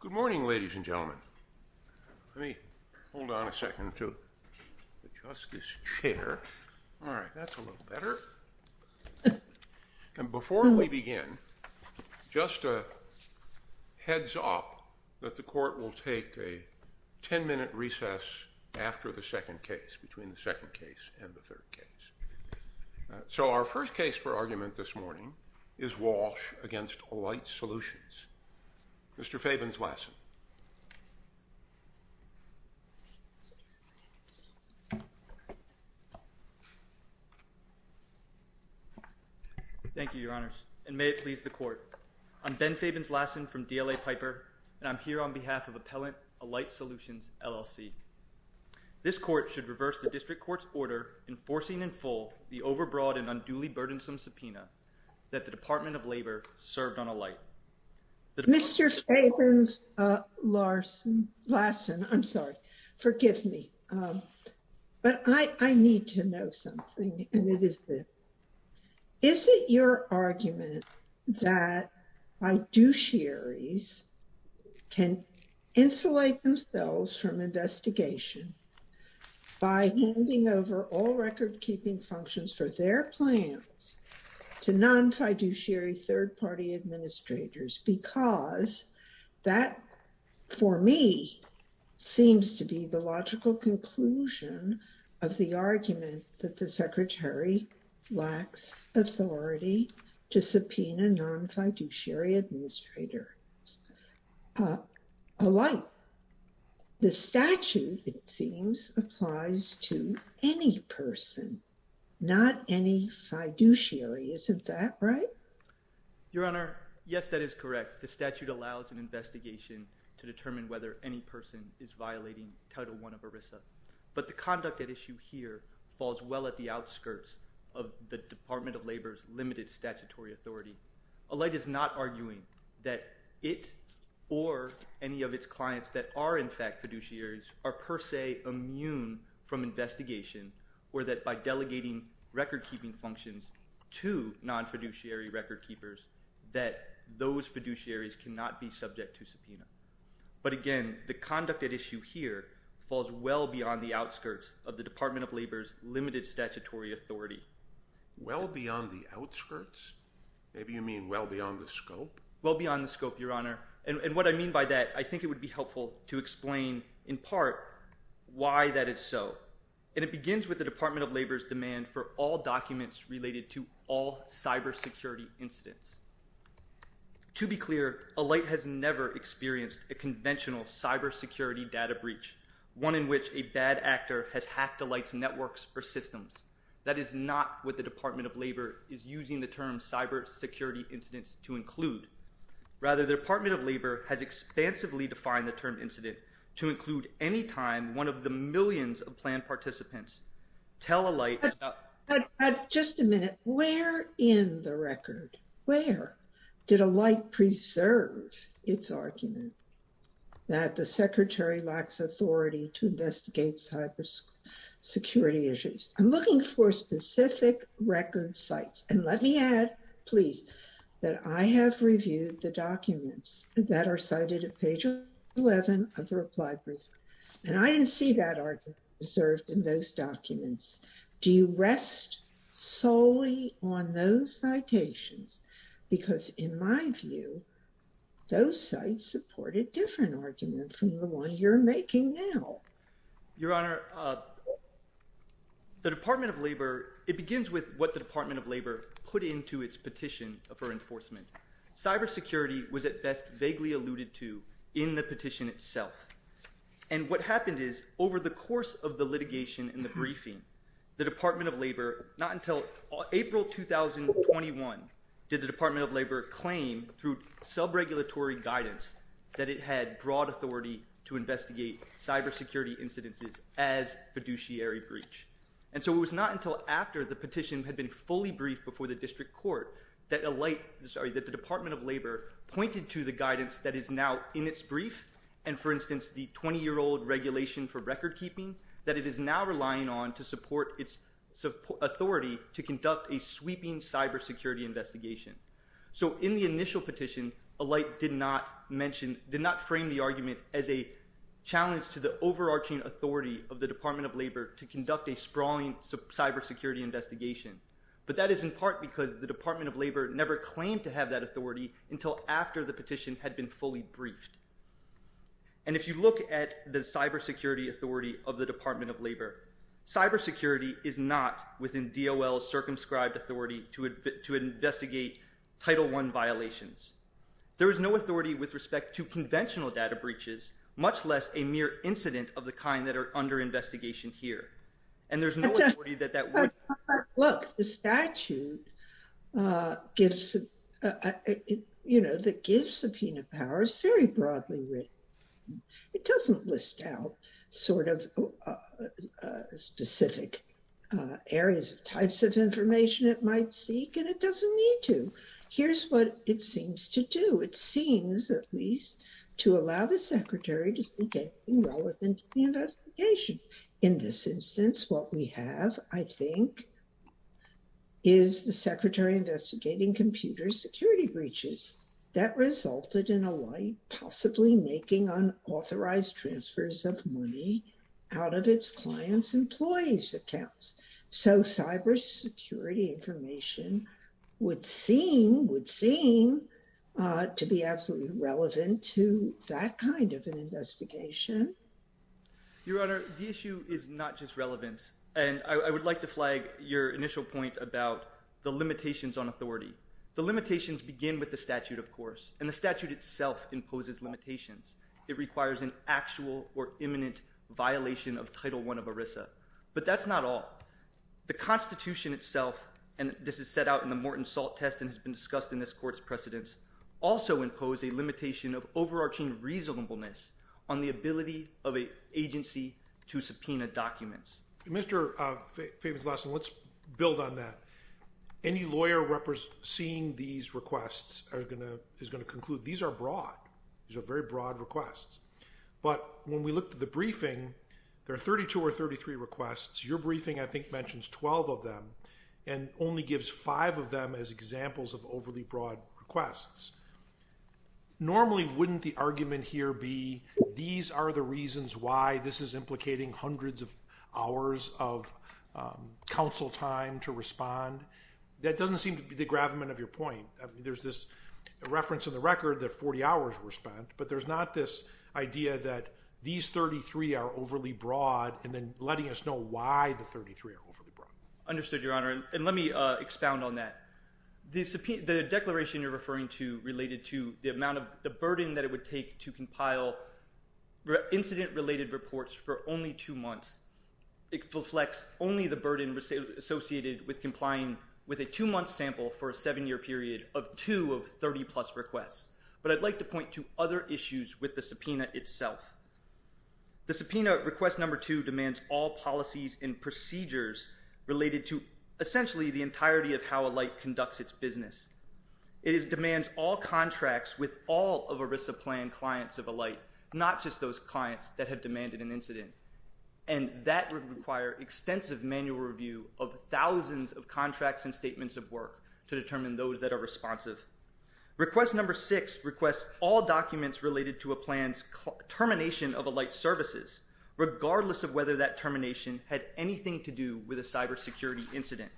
Good morning ladies and gentlemen. Let me hold on a second to the Justice Chair. All right, that's a little better. And before we begin, just a heads up that the court will take a ten minute recess after the second case, between the second case and the third case. So our first case for argument this morning is Walsh v. Alight Solutions. Mr. Fabens-Lassen. Thank you, Your Honors, and may it please the court. I'm Ben Fabens-Lassen from DLA Piper, and I'm here on behalf of Appellant Alight Solutions, LLC. This court should reverse the district court's order enforcing in full the overbroad and unduly burdensome subpoena that the Department of Labor served on Alight. Mr. Fabens-Lassen, I'm sorry, forgive me, but I need to know something and it is this. Is it your argument that fiduciaries can insulate themselves from investigation by handing over all record keeping functions for their plans to non-fiduciary third party administrators? Because that, for me, seems to be the logical conclusion of the argument that the Secretary lacks authority to subpoena non-fiduciary administrators. The statute, it seems, applies to any person, not any fiduciary. Isn't that right? Your Honor, yes, that is correct. The statute allows an investigation to determine whether any person is violating Title I of ERISA. But the conduct at issue here falls well at the outskirts of the Department of Labor's limited statutory authority. Alight is not arguing that it or any of its clients that are in fact fiduciaries are per se immune from investigation or that by delegating record keeping functions to non-fiduciary record keepers that those fiduciaries cannot be subject to subpoena. But again, the conduct at issue here falls well beyond the outskirts of the Department of Labor's limited statutory authority. Well beyond the outskirts? Maybe you mean well beyond the scope? Well beyond the scope, Your Honor. And what I mean by that, I think it would be helpful to explain in part why that is so. And it begins with the Department of Labor's demand for all documents related to all cybersecurity incidents. To be clear, Alight has never experienced a conventional cybersecurity data breach, one in which a bad actor has hacked Alight's networks or systems. That is not what the Department of Labor is using the term cybersecurity incidents to include. Rather, the Department of Labor has expansively defined the term incident to include any time one of the millions of planned participants. Just a minute. Where in the record, where did Alight preserve its argument that the secretary lacks authority to investigate cybersecurity issues? I'm looking for specific record sites. And let me add, please, that I have reviewed the documents that are cited at page 11 of the reply brief. And I didn't see that argument preserved in those documents. Do you rest solely on those citations? Because in my view, those sites support a different argument from the one you're making now. Your Honor, the Department of Labor, it begins with what the Department of Labor put into its petition for enforcement. Cybersecurity was at best vaguely alluded to in the petition itself. And what happened is over the course of the litigation and the briefing, the Department of Labor, not until April 2021, did the Department of Labor claim through sub-regulatory guidance that it had broad authority to investigate cybersecurity incidences as fiduciary breach. And so it was not until after the petition had been fully briefed before the district court that Alight, sorry, that the Department of Labor pointed to the guidance that is now in its brief and, for instance, the 20-year-old regulation for recordkeeping that it is now relying on to support its authority to conduct a sweeping cybersecurity investigation. So in the initial petition, Alight did not mention, did not frame the argument as a challenge to the overarching authority of the Department of Labor to conduct a sprawling cybersecurity investigation. But that is in part because the Department of Labor never claimed to have that authority until after the petition had been fully briefed. And if you look at the cybersecurity authority of the Department of Labor, cybersecurity is not within DOL's circumscribed authority to investigate Title I violations. There is no authority with respect to conventional data breaches, much less a mere incident of the kind that are under investigation here. And there's no authority that that would. Look, the statute gives, you know, that gives subpoena powers very broadly written. It doesn't list out sort of specific areas of types of information it might seek, and it doesn't need to. Here's what it seems to do. It seems, at least, to allow the secretary to speak anything relevant to the investigation. In this instance, what we have, I think, is the secretary investigating computer security breaches that resulted in Alight possibly making unauthorized transfers of money out of its clients' employees' accounts. So cybersecurity information would seem to be absolutely relevant to that kind of an investigation. Your Honor, the issue is not just relevance. And I would like to flag your initial point about the limitations on authority. The limitations begin with the statute, of course, and the statute itself imposes limitations. It requires an actual or imminent violation of Title I of ERISA. But that's not all. The Constitution itself, and this is set out in the Morton Salt Test and has been discussed in this court's precedents, also impose a limitation of overarching reasonableness on the ability of an agency to subpoena documents. Mr. Favin's Lawson, let's build on that. Any lawyer seeing these requests is going to conclude these are broad. These are very broad requests. But when we look at the briefing, there are 32 or 33 requests. Your briefing, I think, mentions 12 of them and only gives five of them as examples of overly broad requests. Normally, wouldn't the argument here be these are the reasons why this is implicating hundreds of hours of counsel time to respond? That doesn't seem to be the gravamen of your point. There's this reference in the record that 40 hours were spent, but there's not this idea that these 33 are overly broad and then letting us know why the 33 are overly broad. Understood, Your Honor, and let me expound on that. The declaration you're referring to related to the burden that it would take to compile incident-related reports for only two months. It reflects only the burden associated with complying with a two-month sample for a seven-year period of two of 30-plus requests. But I'd like to point to other issues with the subpoena itself. The subpoena request number two demands all policies and procedures related to essentially the entirety of how a light conducts its business. It demands all contracts with all of ERISA plan clients of a light, not just those clients that have demanded an incident. And that would require extensive manual review of thousands of contracts and statements of work to determine those that are responsive. Request number six requests all documents related to a plan's termination of a light's services, regardless of whether that termination had anything to do with a cybersecurity incident.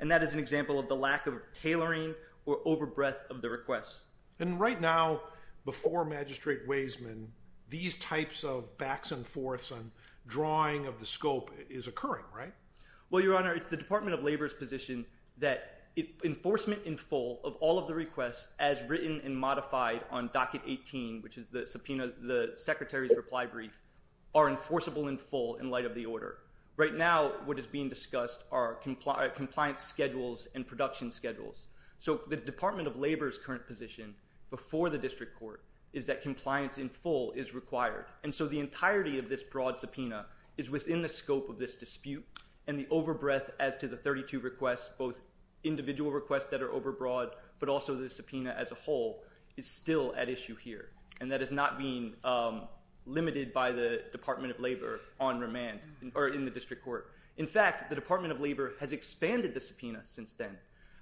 And that is an example of the lack of tailoring or over-breath of the request. And right now, before Magistrate Waisman, these types of backs and forths and drawing of the scope is occurring, right? Well, Your Honor, it's the Department of Labor's position that enforcement in full of all of the requests as written and modified on docket 18, which is the subpoena, the secretary's reply brief, are enforceable in full in light of the order. Right now, what is being discussed are compliance schedules and production schedules. So the Department of Labor's current position before the district court is that compliance in full is required. And so the entirety of this broad subpoena is within the scope of this dispute. And the over-breath as to the 32 requests, both individual requests that are over-broad, but also the subpoena as a whole, is still at issue here. And that is not being limited by the Department of Labor on remand or in the district court. In fact, the Department of Labor has expanded the subpoena since then.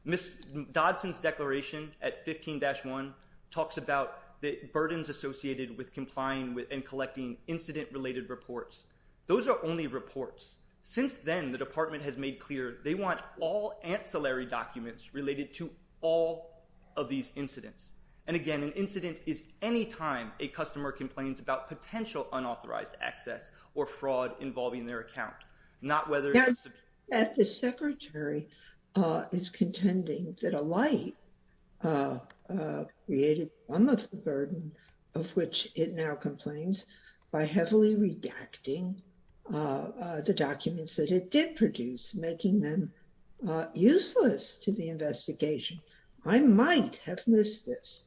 Ms. Dodson's declaration at 15-1 talks about the burdens associated with complying with and collecting incident-related reports. Those are only reports. Since then, the department has made clear they want all ancillary documents related to all of these incidents. And, again, an incident is any time a customer complains about potential unauthorized access or fraud involving their account, not whether it's subpoena. The secretary is contending that a light created some of the burden of which it now complains by heavily redacting the documents that it did produce, making them useless to the investigation. I might have missed this,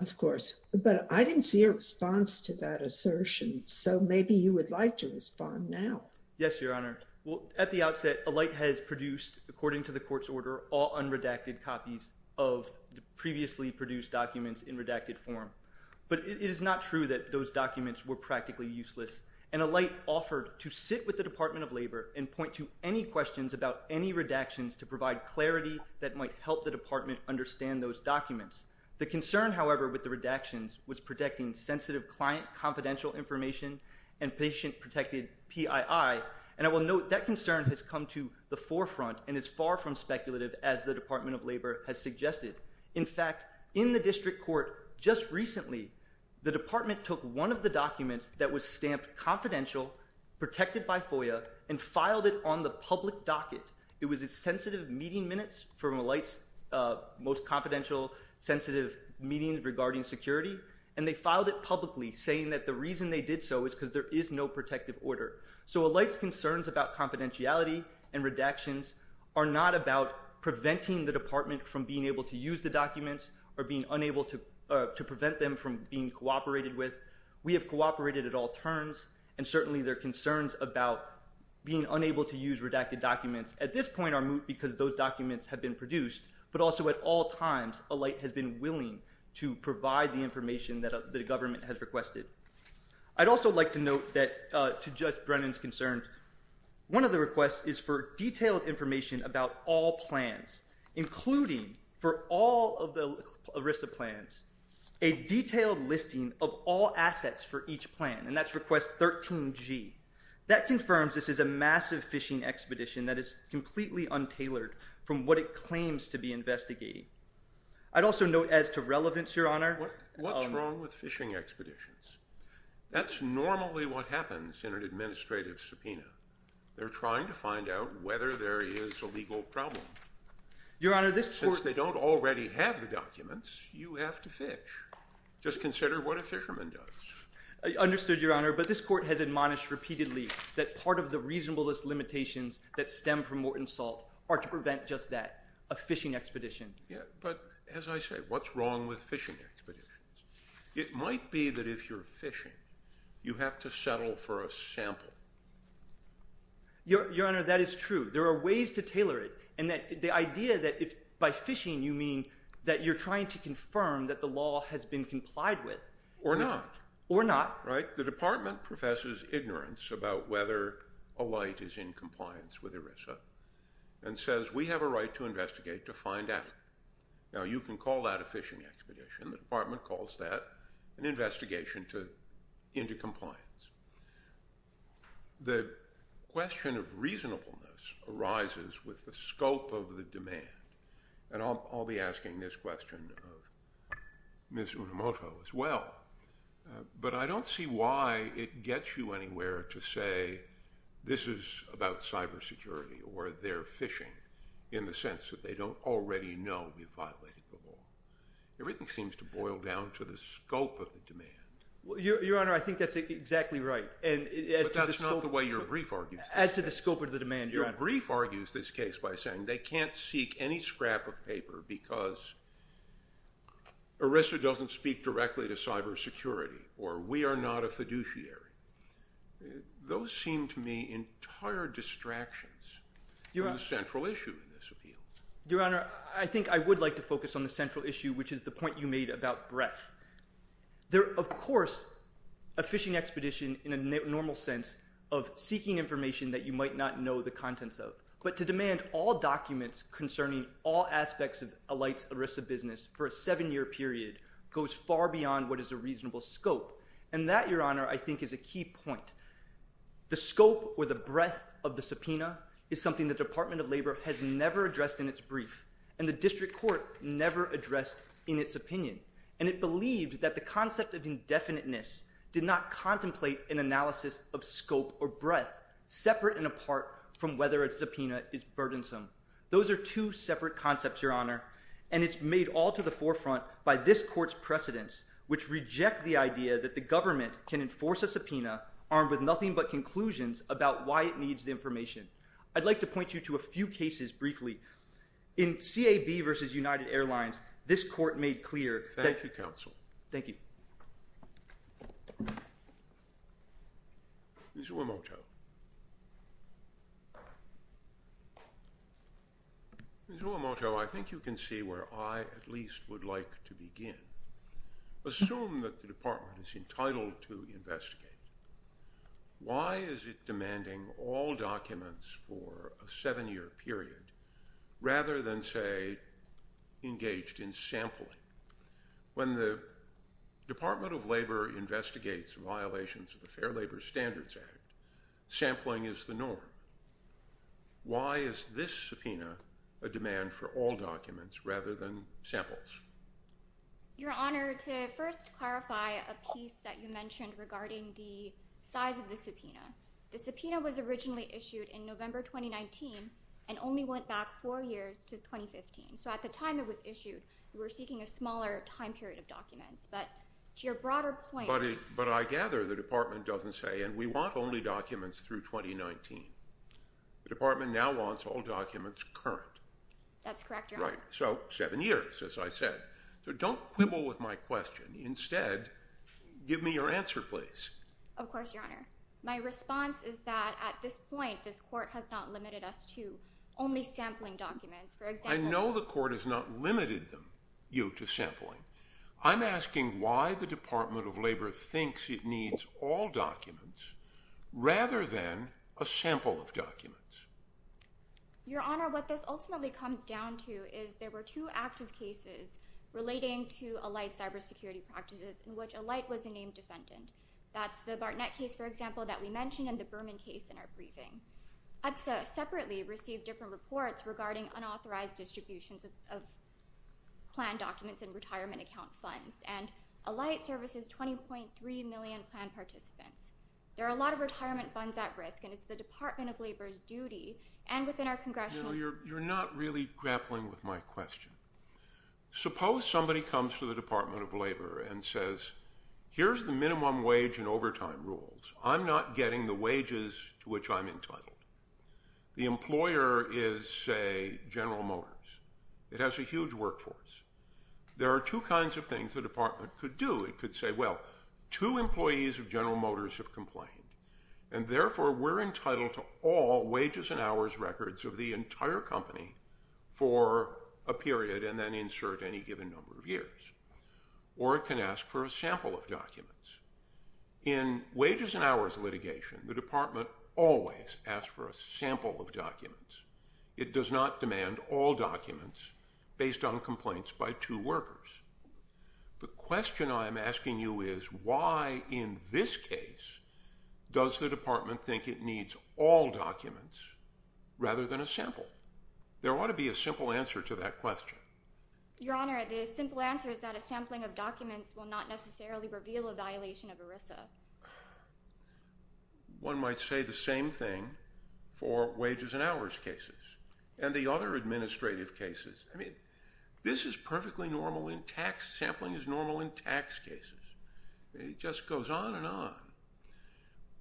of course, but I didn't see a response to that assertion. So maybe you would like to respond now. Yes, Your Honor. Well, at the outset, a light has produced, according to the court's order, all unredacted copies of the previously produced documents in redacted form. But it is not true that those documents were practically useless. And a light offered to sit with the Department of Labor and point to any questions about any redactions to provide clarity that might help the department understand those documents. The concern, however, with the redactions was protecting sensitive client confidential information and patient-protected PII. And I will note that concern has come to the forefront and is far from speculative, as the Department of Labor has suggested. In fact, in the district court just recently, the department took one of the documents that was stamped confidential, protected by FOIA, and filed it on the public docket. It was a sensitive meeting minutes from a light's most confidential, sensitive meetings regarding security. And they filed it publicly, saying that the reason they did so is because there is no protective order. So a light's concerns about confidentiality and redactions are not about preventing the department from being able to use the documents or being unable to prevent them from being cooperated with. We have cooperated at all turns. And certainly their concerns about being unable to use redacted documents at this point are moot because those documents have been produced. But also at all times, a light has been willing to provide the information that the government has requested. I'd also like to note that, to judge Brennan's concern, one of the requests is for detailed information about all plans, including for all of the ERISA plans, a detailed listing of all assets for each plan. And that's request 13G. That confirms this is a massive fishing expedition that is completely untailored from what it claims to be investigating. I'd also note, as to relevance, Your Honor— What's wrong with fishing expeditions? That's normally what happens in an administrative subpoena. They're trying to find out whether there is a legal problem. Your Honor, this court— Just consider what a fisherman does. I understood, Your Honor, but this court has admonished repeatedly that part of the reasonablest limitations that stem from Morton Salt are to prevent just that, a fishing expedition. Yeah, but as I say, what's wrong with fishing expeditions? It might be that if you're fishing, you have to settle for a sample. Your Honor, that is true. There are ways to tailor it, and the idea that by fishing, you mean that you're trying to confirm that the law has been complied with. Or not. Or not. Right? The department professes ignorance about whether a light is in compliance with ERISA and says, we have a right to investigate to find out. Now, you can call that a fishing expedition. The department calls that an investigation into compliance. The question of reasonableness arises with the scope of the demand. And I'll be asking this question of Ms. Unomoto as well. But I don't see why it gets you anywhere to say this is about cybersecurity or they're fishing in the sense that they don't already know we've violated the law. Everything seems to boil down to the scope of the demand. Your Honor, I think that's exactly right. But that's not the way your brief argues this case. As to the scope of the demand, Your Honor. Your brief argues this case by saying they can't seek any scrap of paper because ERISA doesn't speak directly to cybersecurity or we are not a fiduciary. Those seem to me entire distractions to the central issue in this appeal. Your Honor, I think I would like to focus on the central issue, which is the point you made about breadth. There, of course, a fishing expedition in a normal sense of seeking information that you might not know the contents of. But to demand all documents concerning all aspects of a light ERISA business for a seven-year period goes far beyond what is a reasonable scope. And that, Your Honor, I think is a key point. The scope or the breadth of the subpoena is something the Department of Labor has never addressed in its brief. And the district court never addressed in its opinion. And it believed that the concept of indefiniteness did not contemplate an analysis of scope or breadth separate and apart from whether a subpoena is burdensome. Those are two separate concepts, Your Honor. And it's made all to the forefront by this court's precedents, which reject the idea that the government can enforce a subpoena armed with nothing but conclusions about why it needs the information. I'd like to point you to a few cases briefly. In CAB v. United Airlines, this court made clear. Thank you, counsel. Thank you. Ms. Uemoto. Ms. Uemoto, I think you can see where I at least would like to begin. Assume that the department is entitled to investigate. Why is it demanding all documents for a seven-year period rather than, say, engaged in sampling? When the Department of Labor investigates violations of the Fair Labor Standards Act, sampling is the norm. Why is this subpoena a demand for all documents rather than samples? Your Honor, to first clarify a piece that you mentioned regarding the size of the subpoena. The subpoena was originally issued in November 2019 and only went back four years to 2015. So at the time it was issued, we were seeking a smaller time period of documents. But to your broader point— But I gather the department doesn't say, and we want only documents through 2019. The department now wants all documents current. That's correct, Your Honor. That's right. So seven years, as I said. So don't quibble with my question. Instead, give me your answer, please. Of course, Your Honor. My response is that at this point this court has not limited us to only sampling documents. I know the court has not limited you to sampling. I'm asking why the Department of Labor thinks it needs all documents rather than a sample of documents. Your Honor, what this ultimately comes down to is there were two active cases relating to Allite cybersecurity practices in which Allite was a named defendant. That's the Bartnett case, for example, that we mentioned and the Berman case in our briefing. EPSA separately received different reports regarding unauthorized distributions of plan documents and retirement account funds, and Allite services 20.3 million plan participants. There are a lot of retirement funds at risk, and it's the Department of Labor's duty, and within our congressional No, you're not really grappling with my question. Suppose somebody comes to the Department of Labor and says, Here's the minimum wage and overtime rules. I'm not getting the wages to which I'm entitled. The employer is, say, General Motors. It has a huge workforce. There are two kinds of things the department could do. It could say, Well, two employees of General Motors have complained, and therefore we're entitled to all wages and hours records of the entire company for a period and then insert any given number of years. Or it can ask for a sample of documents. In wages and hours litigation, the department always asks for a sample of documents. It does not demand all documents based on complaints by two workers. The question I'm asking you is, why in this case does the department think it needs all documents rather than a sample? There ought to be a simple answer to that question. Your Honor, the simple answer is that a sampling of documents will not necessarily reveal a violation of ERISA. One might say the same thing for wages and hours cases. And the other administrative cases. I mean, this is perfectly normal in tax. Sampling is normal in tax cases. It just goes on and on.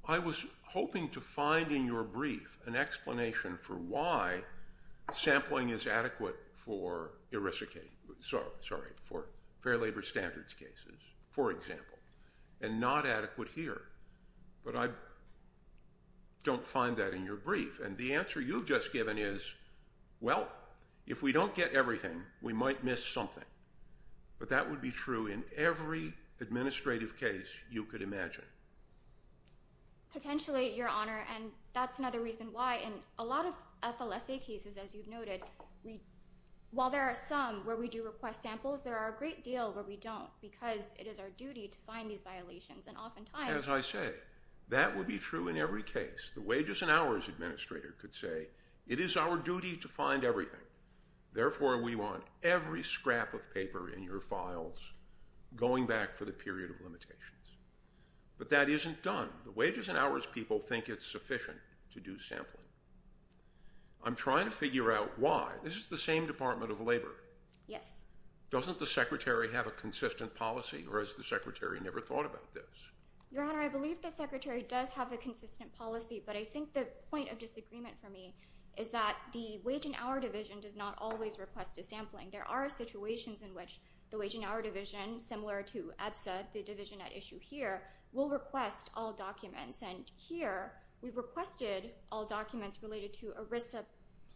I was hoping to find in your brief an explanation for why sampling is adequate for ERISA cases. Sorry, for Fair Labor Standards cases, for example, and not adequate here. But I don't find that in your brief. And the answer you've just given is, well, if we don't get everything, we might miss something. But that would be true in every administrative case you could imagine. Potentially, Your Honor, and that's another reason why in a lot of FLSA cases, as you've noted, while there are some where we do request samples, there are a great deal where we don't because it is our duty to find these violations. As I say, that would be true in every case. The wages and hours administrator could say it is our duty to find everything. Therefore, we want every scrap of paper in your files going back for the period of limitations. But that isn't done. The wages and hours people think it's sufficient to do sampling. I'm trying to figure out why. This is the same Department of Labor. Yes. Doesn't the Secretary have a consistent policy, or has the Secretary never thought about this? Your Honor, I believe the Secretary does have a consistent policy, but I think the point of disagreement for me is that the Wage and Hour Division does not always request a sampling. There are situations in which the Wage and Hour Division, similar to EBSA, the division at issue here, will request all documents. And here, we requested all documents related to ERISA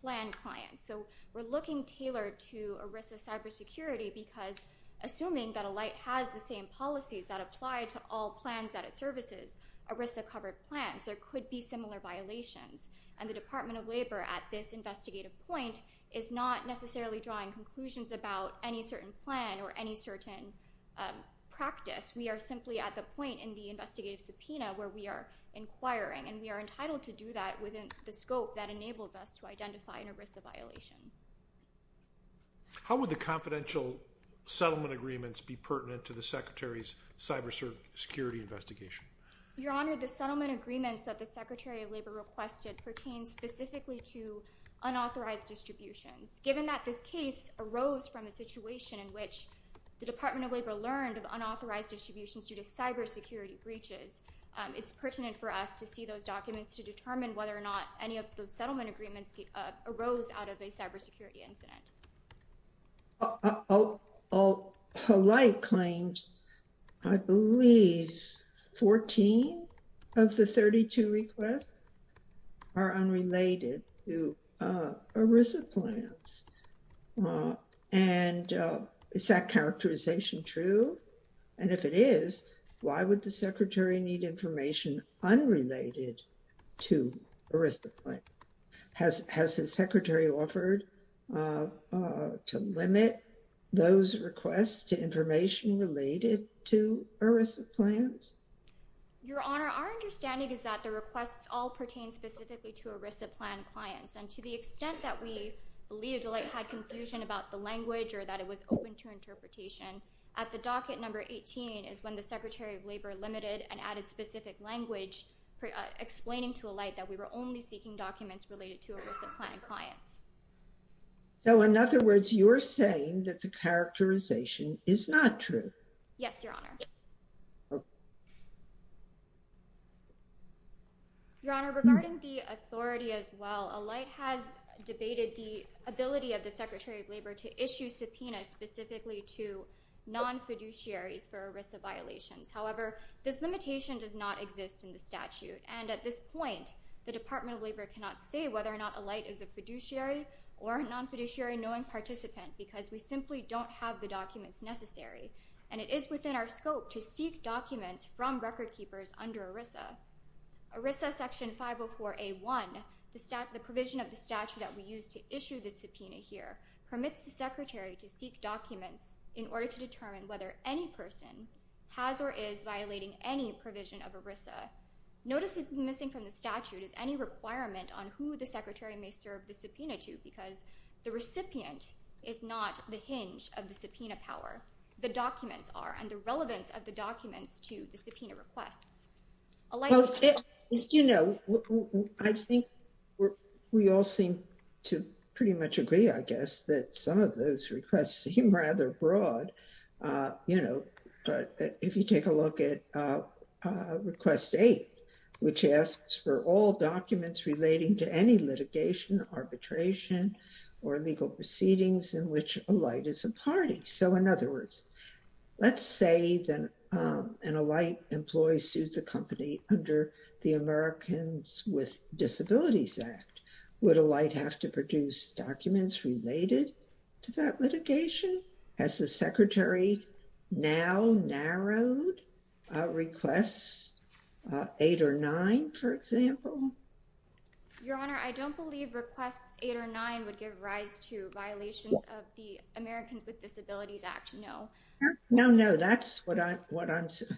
plan clients. So we're looking tailored to ERISA cybersecurity because assuming that a light has the same policies that apply to all plans that it services, ERISA-covered plans, there could be similar violations. And the Department of Labor, at this investigative point, is not necessarily drawing conclusions about any certain plan or any certain practice. We are simply at the point in the investigative subpoena where we are inquiring, and we are entitled to do that within the scope that enables us to identify an ERISA violation. How would the confidential settlement agreements be pertinent to the Secretary's cybersecurity investigation? Your Honor, the settlement agreements that the Secretary of Labor requested pertain specifically to unauthorized distributions. Given that this case arose from a situation in which the Department of Labor learned of unauthorized distributions due to cybersecurity breaches, it's pertinent for us to see those documents to determine whether or not any of those settlement agreements arose out of a cybersecurity incident. All polite claims, I believe 14 of the 32 requests are unrelated to ERISA plans. And is that characterization true? And if it is, why would the Secretary need information unrelated to ERISA plans? Has the Secretary offered to limit those requests to information related to ERISA plans? Your Honor, our understanding is that the requests all pertain specifically to ERISA plan clients. And to the extent that we believe the light had confusion about the language or that it was open to interpretation, at the docket number 18 is when the Secretary of Labor limited and added specific language explaining to a light that we were only seeking documents related to ERISA plan clients. So in other words, you're saying that the characterization is not true. Yes, Your Honor. Your Honor, regarding the authority as well, a light has debated the ability of the Secretary of Labor to issue subpoenas specifically to non-fiduciaries for ERISA violations. However, this limitation does not exist in the statute. And at this point, the Department of Labor cannot say whether or not a light is a fiduciary or a non-fiduciary knowing participant because we simply don't have the documents necessary. And it is within our scope to seek documents from record keepers under ERISA. ERISA Section 504A1, the provision of the statute that we use to issue the subpoena here, permits the Secretary to seek documents in order to determine whether any person has or is violating any provision of ERISA. Notice that missing from the statute is any requirement on who the Secretary may serve the subpoena to because the recipient is not the hinge of the subpoena power. The documents are and the relevance of the documents to the subpoena requests. You know, I think we all seem to pretty much agree, I guess, that some of those requests seem rather broad, you know. But if you take a look at Request 8, which asks for all documents relating to any litigation, arbitration or legal proceedings in which a light is a party. So in other words, let's say that a light employee sued the company under the Americans with Disabilities Act. Would a light have to produce documents related to that litigation? Has the Secretary now narrowed requests 8 or 9, for example? Your Honor, I don't believe requests 8 or 9 would give rise to violations of the Americans with Disabilities Act, no. No, no, that's what I'm saying.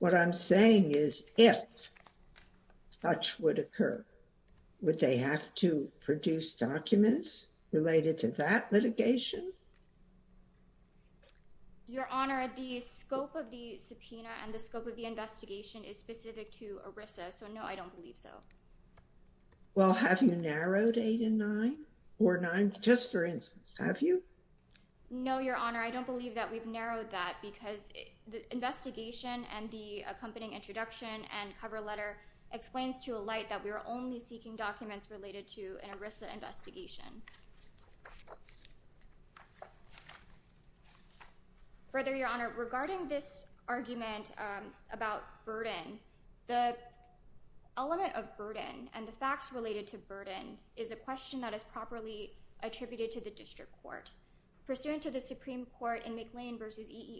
What I'm saying is if such would occur, would they have to produce documents related to that litigation? Your Honor, the scope of the subpoena and the scope of the investigation is specific to ERISA, so no, I don't believe so. Well, have you narrowed 8 and 9 or 9, just for instance, have you? No, Your Honor, I don't believe that we've narrowed that because the investigation and the accompanying introduction and cover letter explains to a light that we were only seeking documents related to an ERISA investigation. Further, Your Honor, regarding this argument about burden, the element of burden and the facts related to burden is a question that is properly attributed to the district court. Pursuant to the Supreme Court in McLean v.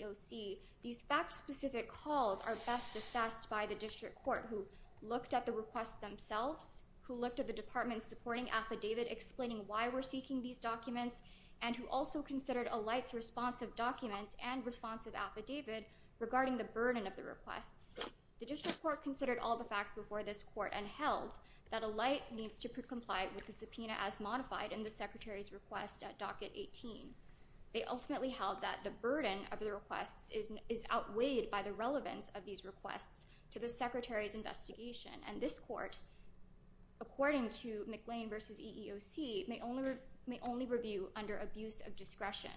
EEOC, these fact-specific calls are best assessed by the district court who looked at the requests themselves, who looked at the department's supporting affidavit explaining why we're seeking these documents, and who also considered a light's response of documents and response of affidavit regarding the burden of the requests. The district court considered all the facts before this court and held that a light needs to comply with the subpoena as modified in the Secretary's request at Docket 18. They ultimately held that the burden of the requests is outweighed by the relevance of these requests to the Secretary's investigation, and this court, according to McLean v. EEOC, may only review under abuse of discretion,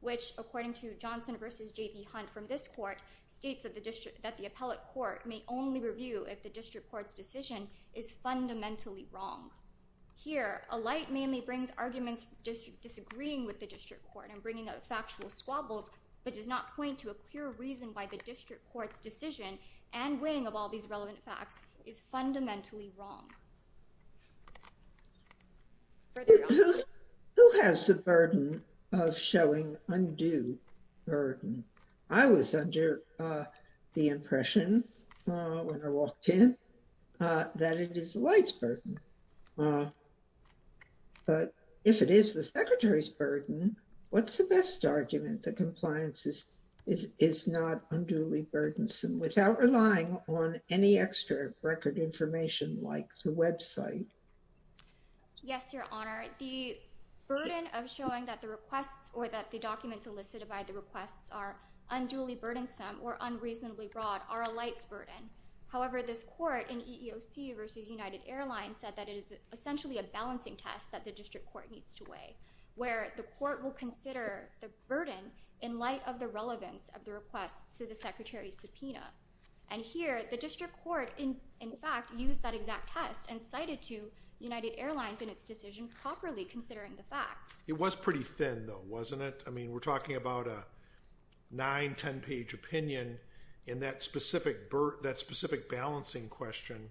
which, according to Johnson v. J.B. Hunt from this court, states that the appellate court may only review if the district court's decision is fundamentally wrong. Here, a light mainly brings arguments disagreeing with the district court and bringing up factual squabbles, but does not point to a clear reason why the district court's decision and weighing of all these relevant facts is fundamentally wrong. Who has the burden of showing undue burden? I was under the impression when I walked in that it is the light's burden. But if it is the Secretary's burden, what's the best argument that compliance is not unduly burdensome without relying on any extra record information like the website? Yes, Your Honor. The burden of showing that the requests or that the documents elicited by the requests are unduly burdensome or unreasonably broad are a light's burden. However, this court in EEOC v. United Airlines said that it is essentially a balancing test that the district court needs to weigh, where the court will consider the burden in light of the relevance of the request to the Secretary's subpoena. And here, the district court, in fact, used that exact test and cited to United Airlines in its decision properly considering the facts. It was pretty thin, though, wasn't it? I mean, we're talking about a nine, ten-page opinion, and that specific balancing question,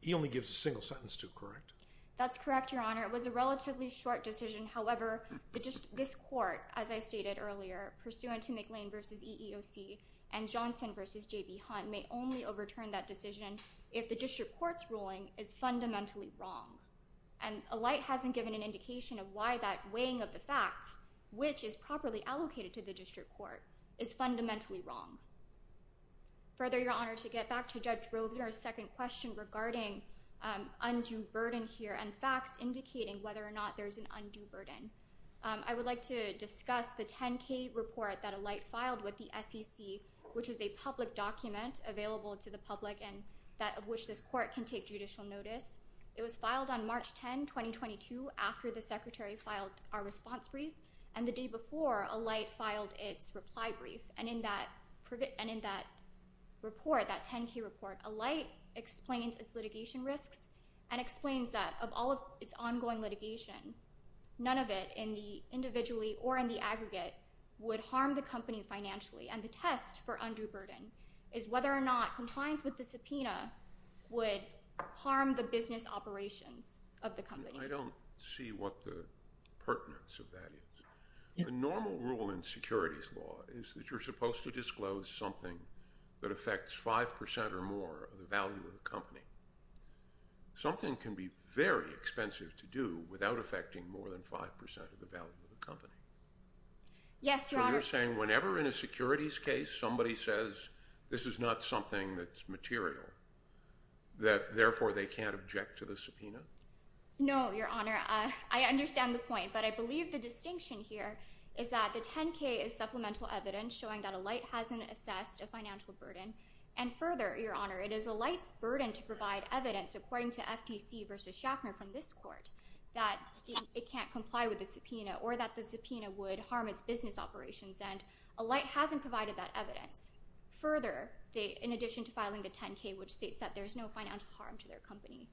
he only gives a single sentence to, correct? That's correct, Your Honor. It was a relatively short decision. However, this court, as I stated earlier, pursuant to McLean v. EEOC and Johnson v. J.B. Hunt, may only overturn that decision if the district court's ruling is fundamentally wrong. And a light hasn't given an indication of why that weighing of the facts, which is properly allocated to the district court, is fundamentally wrong. Further, Your Honor, to get back to Judge Rovner's second question regarding undue burden here and facts indicating whether or not there's an undue burden, I would like to discuss the 10-K report that a light filed with the SEC, which is a public document available to the public and that of which this court can take judicial notice. It was filed on March 10, 2022, after the secretary filed our response brief, and the day before, a light filed its reply brief. And in that report, that 10-K report, a light explains its litigation risks and explains that of all of its ongoing litigation, none of it individually or in the aggregate would harm the company financially. And the test for undue burden is whether or not compliance with the subpoena would harm the business operations of the company. I don't see what the pertinence of that is. The normal rule in securities law is that you're supposed to disclose something that affects 5% or more of the value of the company. Something can be very expensive to do without affecting more than 5% of the value of the company. Yes, Your Honor. So you're saying whenever in a securities case somebody says this is not something that's material, that therefore they can't object to the subpoena? No, Your Honor. I understand the point, but I believe the distinction here is that the 10-K is supplemental evidence showing that a light hasn't assessed a financial burden. And further, Your Honor, it is a light's burden to provide evidence, according to FTC versus Schaffner from this court, that it can't comply with the subpoena or that the subpoena would harm its business operations. And a light hasn't provided that evidence. Further, in addition to filing the 10-K, which states that there's no financial harm to their company.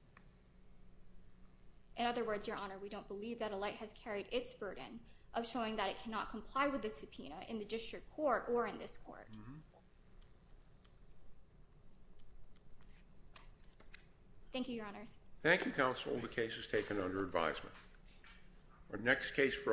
In other words, Your Honor, we don't believe that a light has carried its burden of showing that it cannot comply with the subpoena in the district court or in this court. Thank you, Your Honors. Thank you, Counsel. The case is taken under advisement.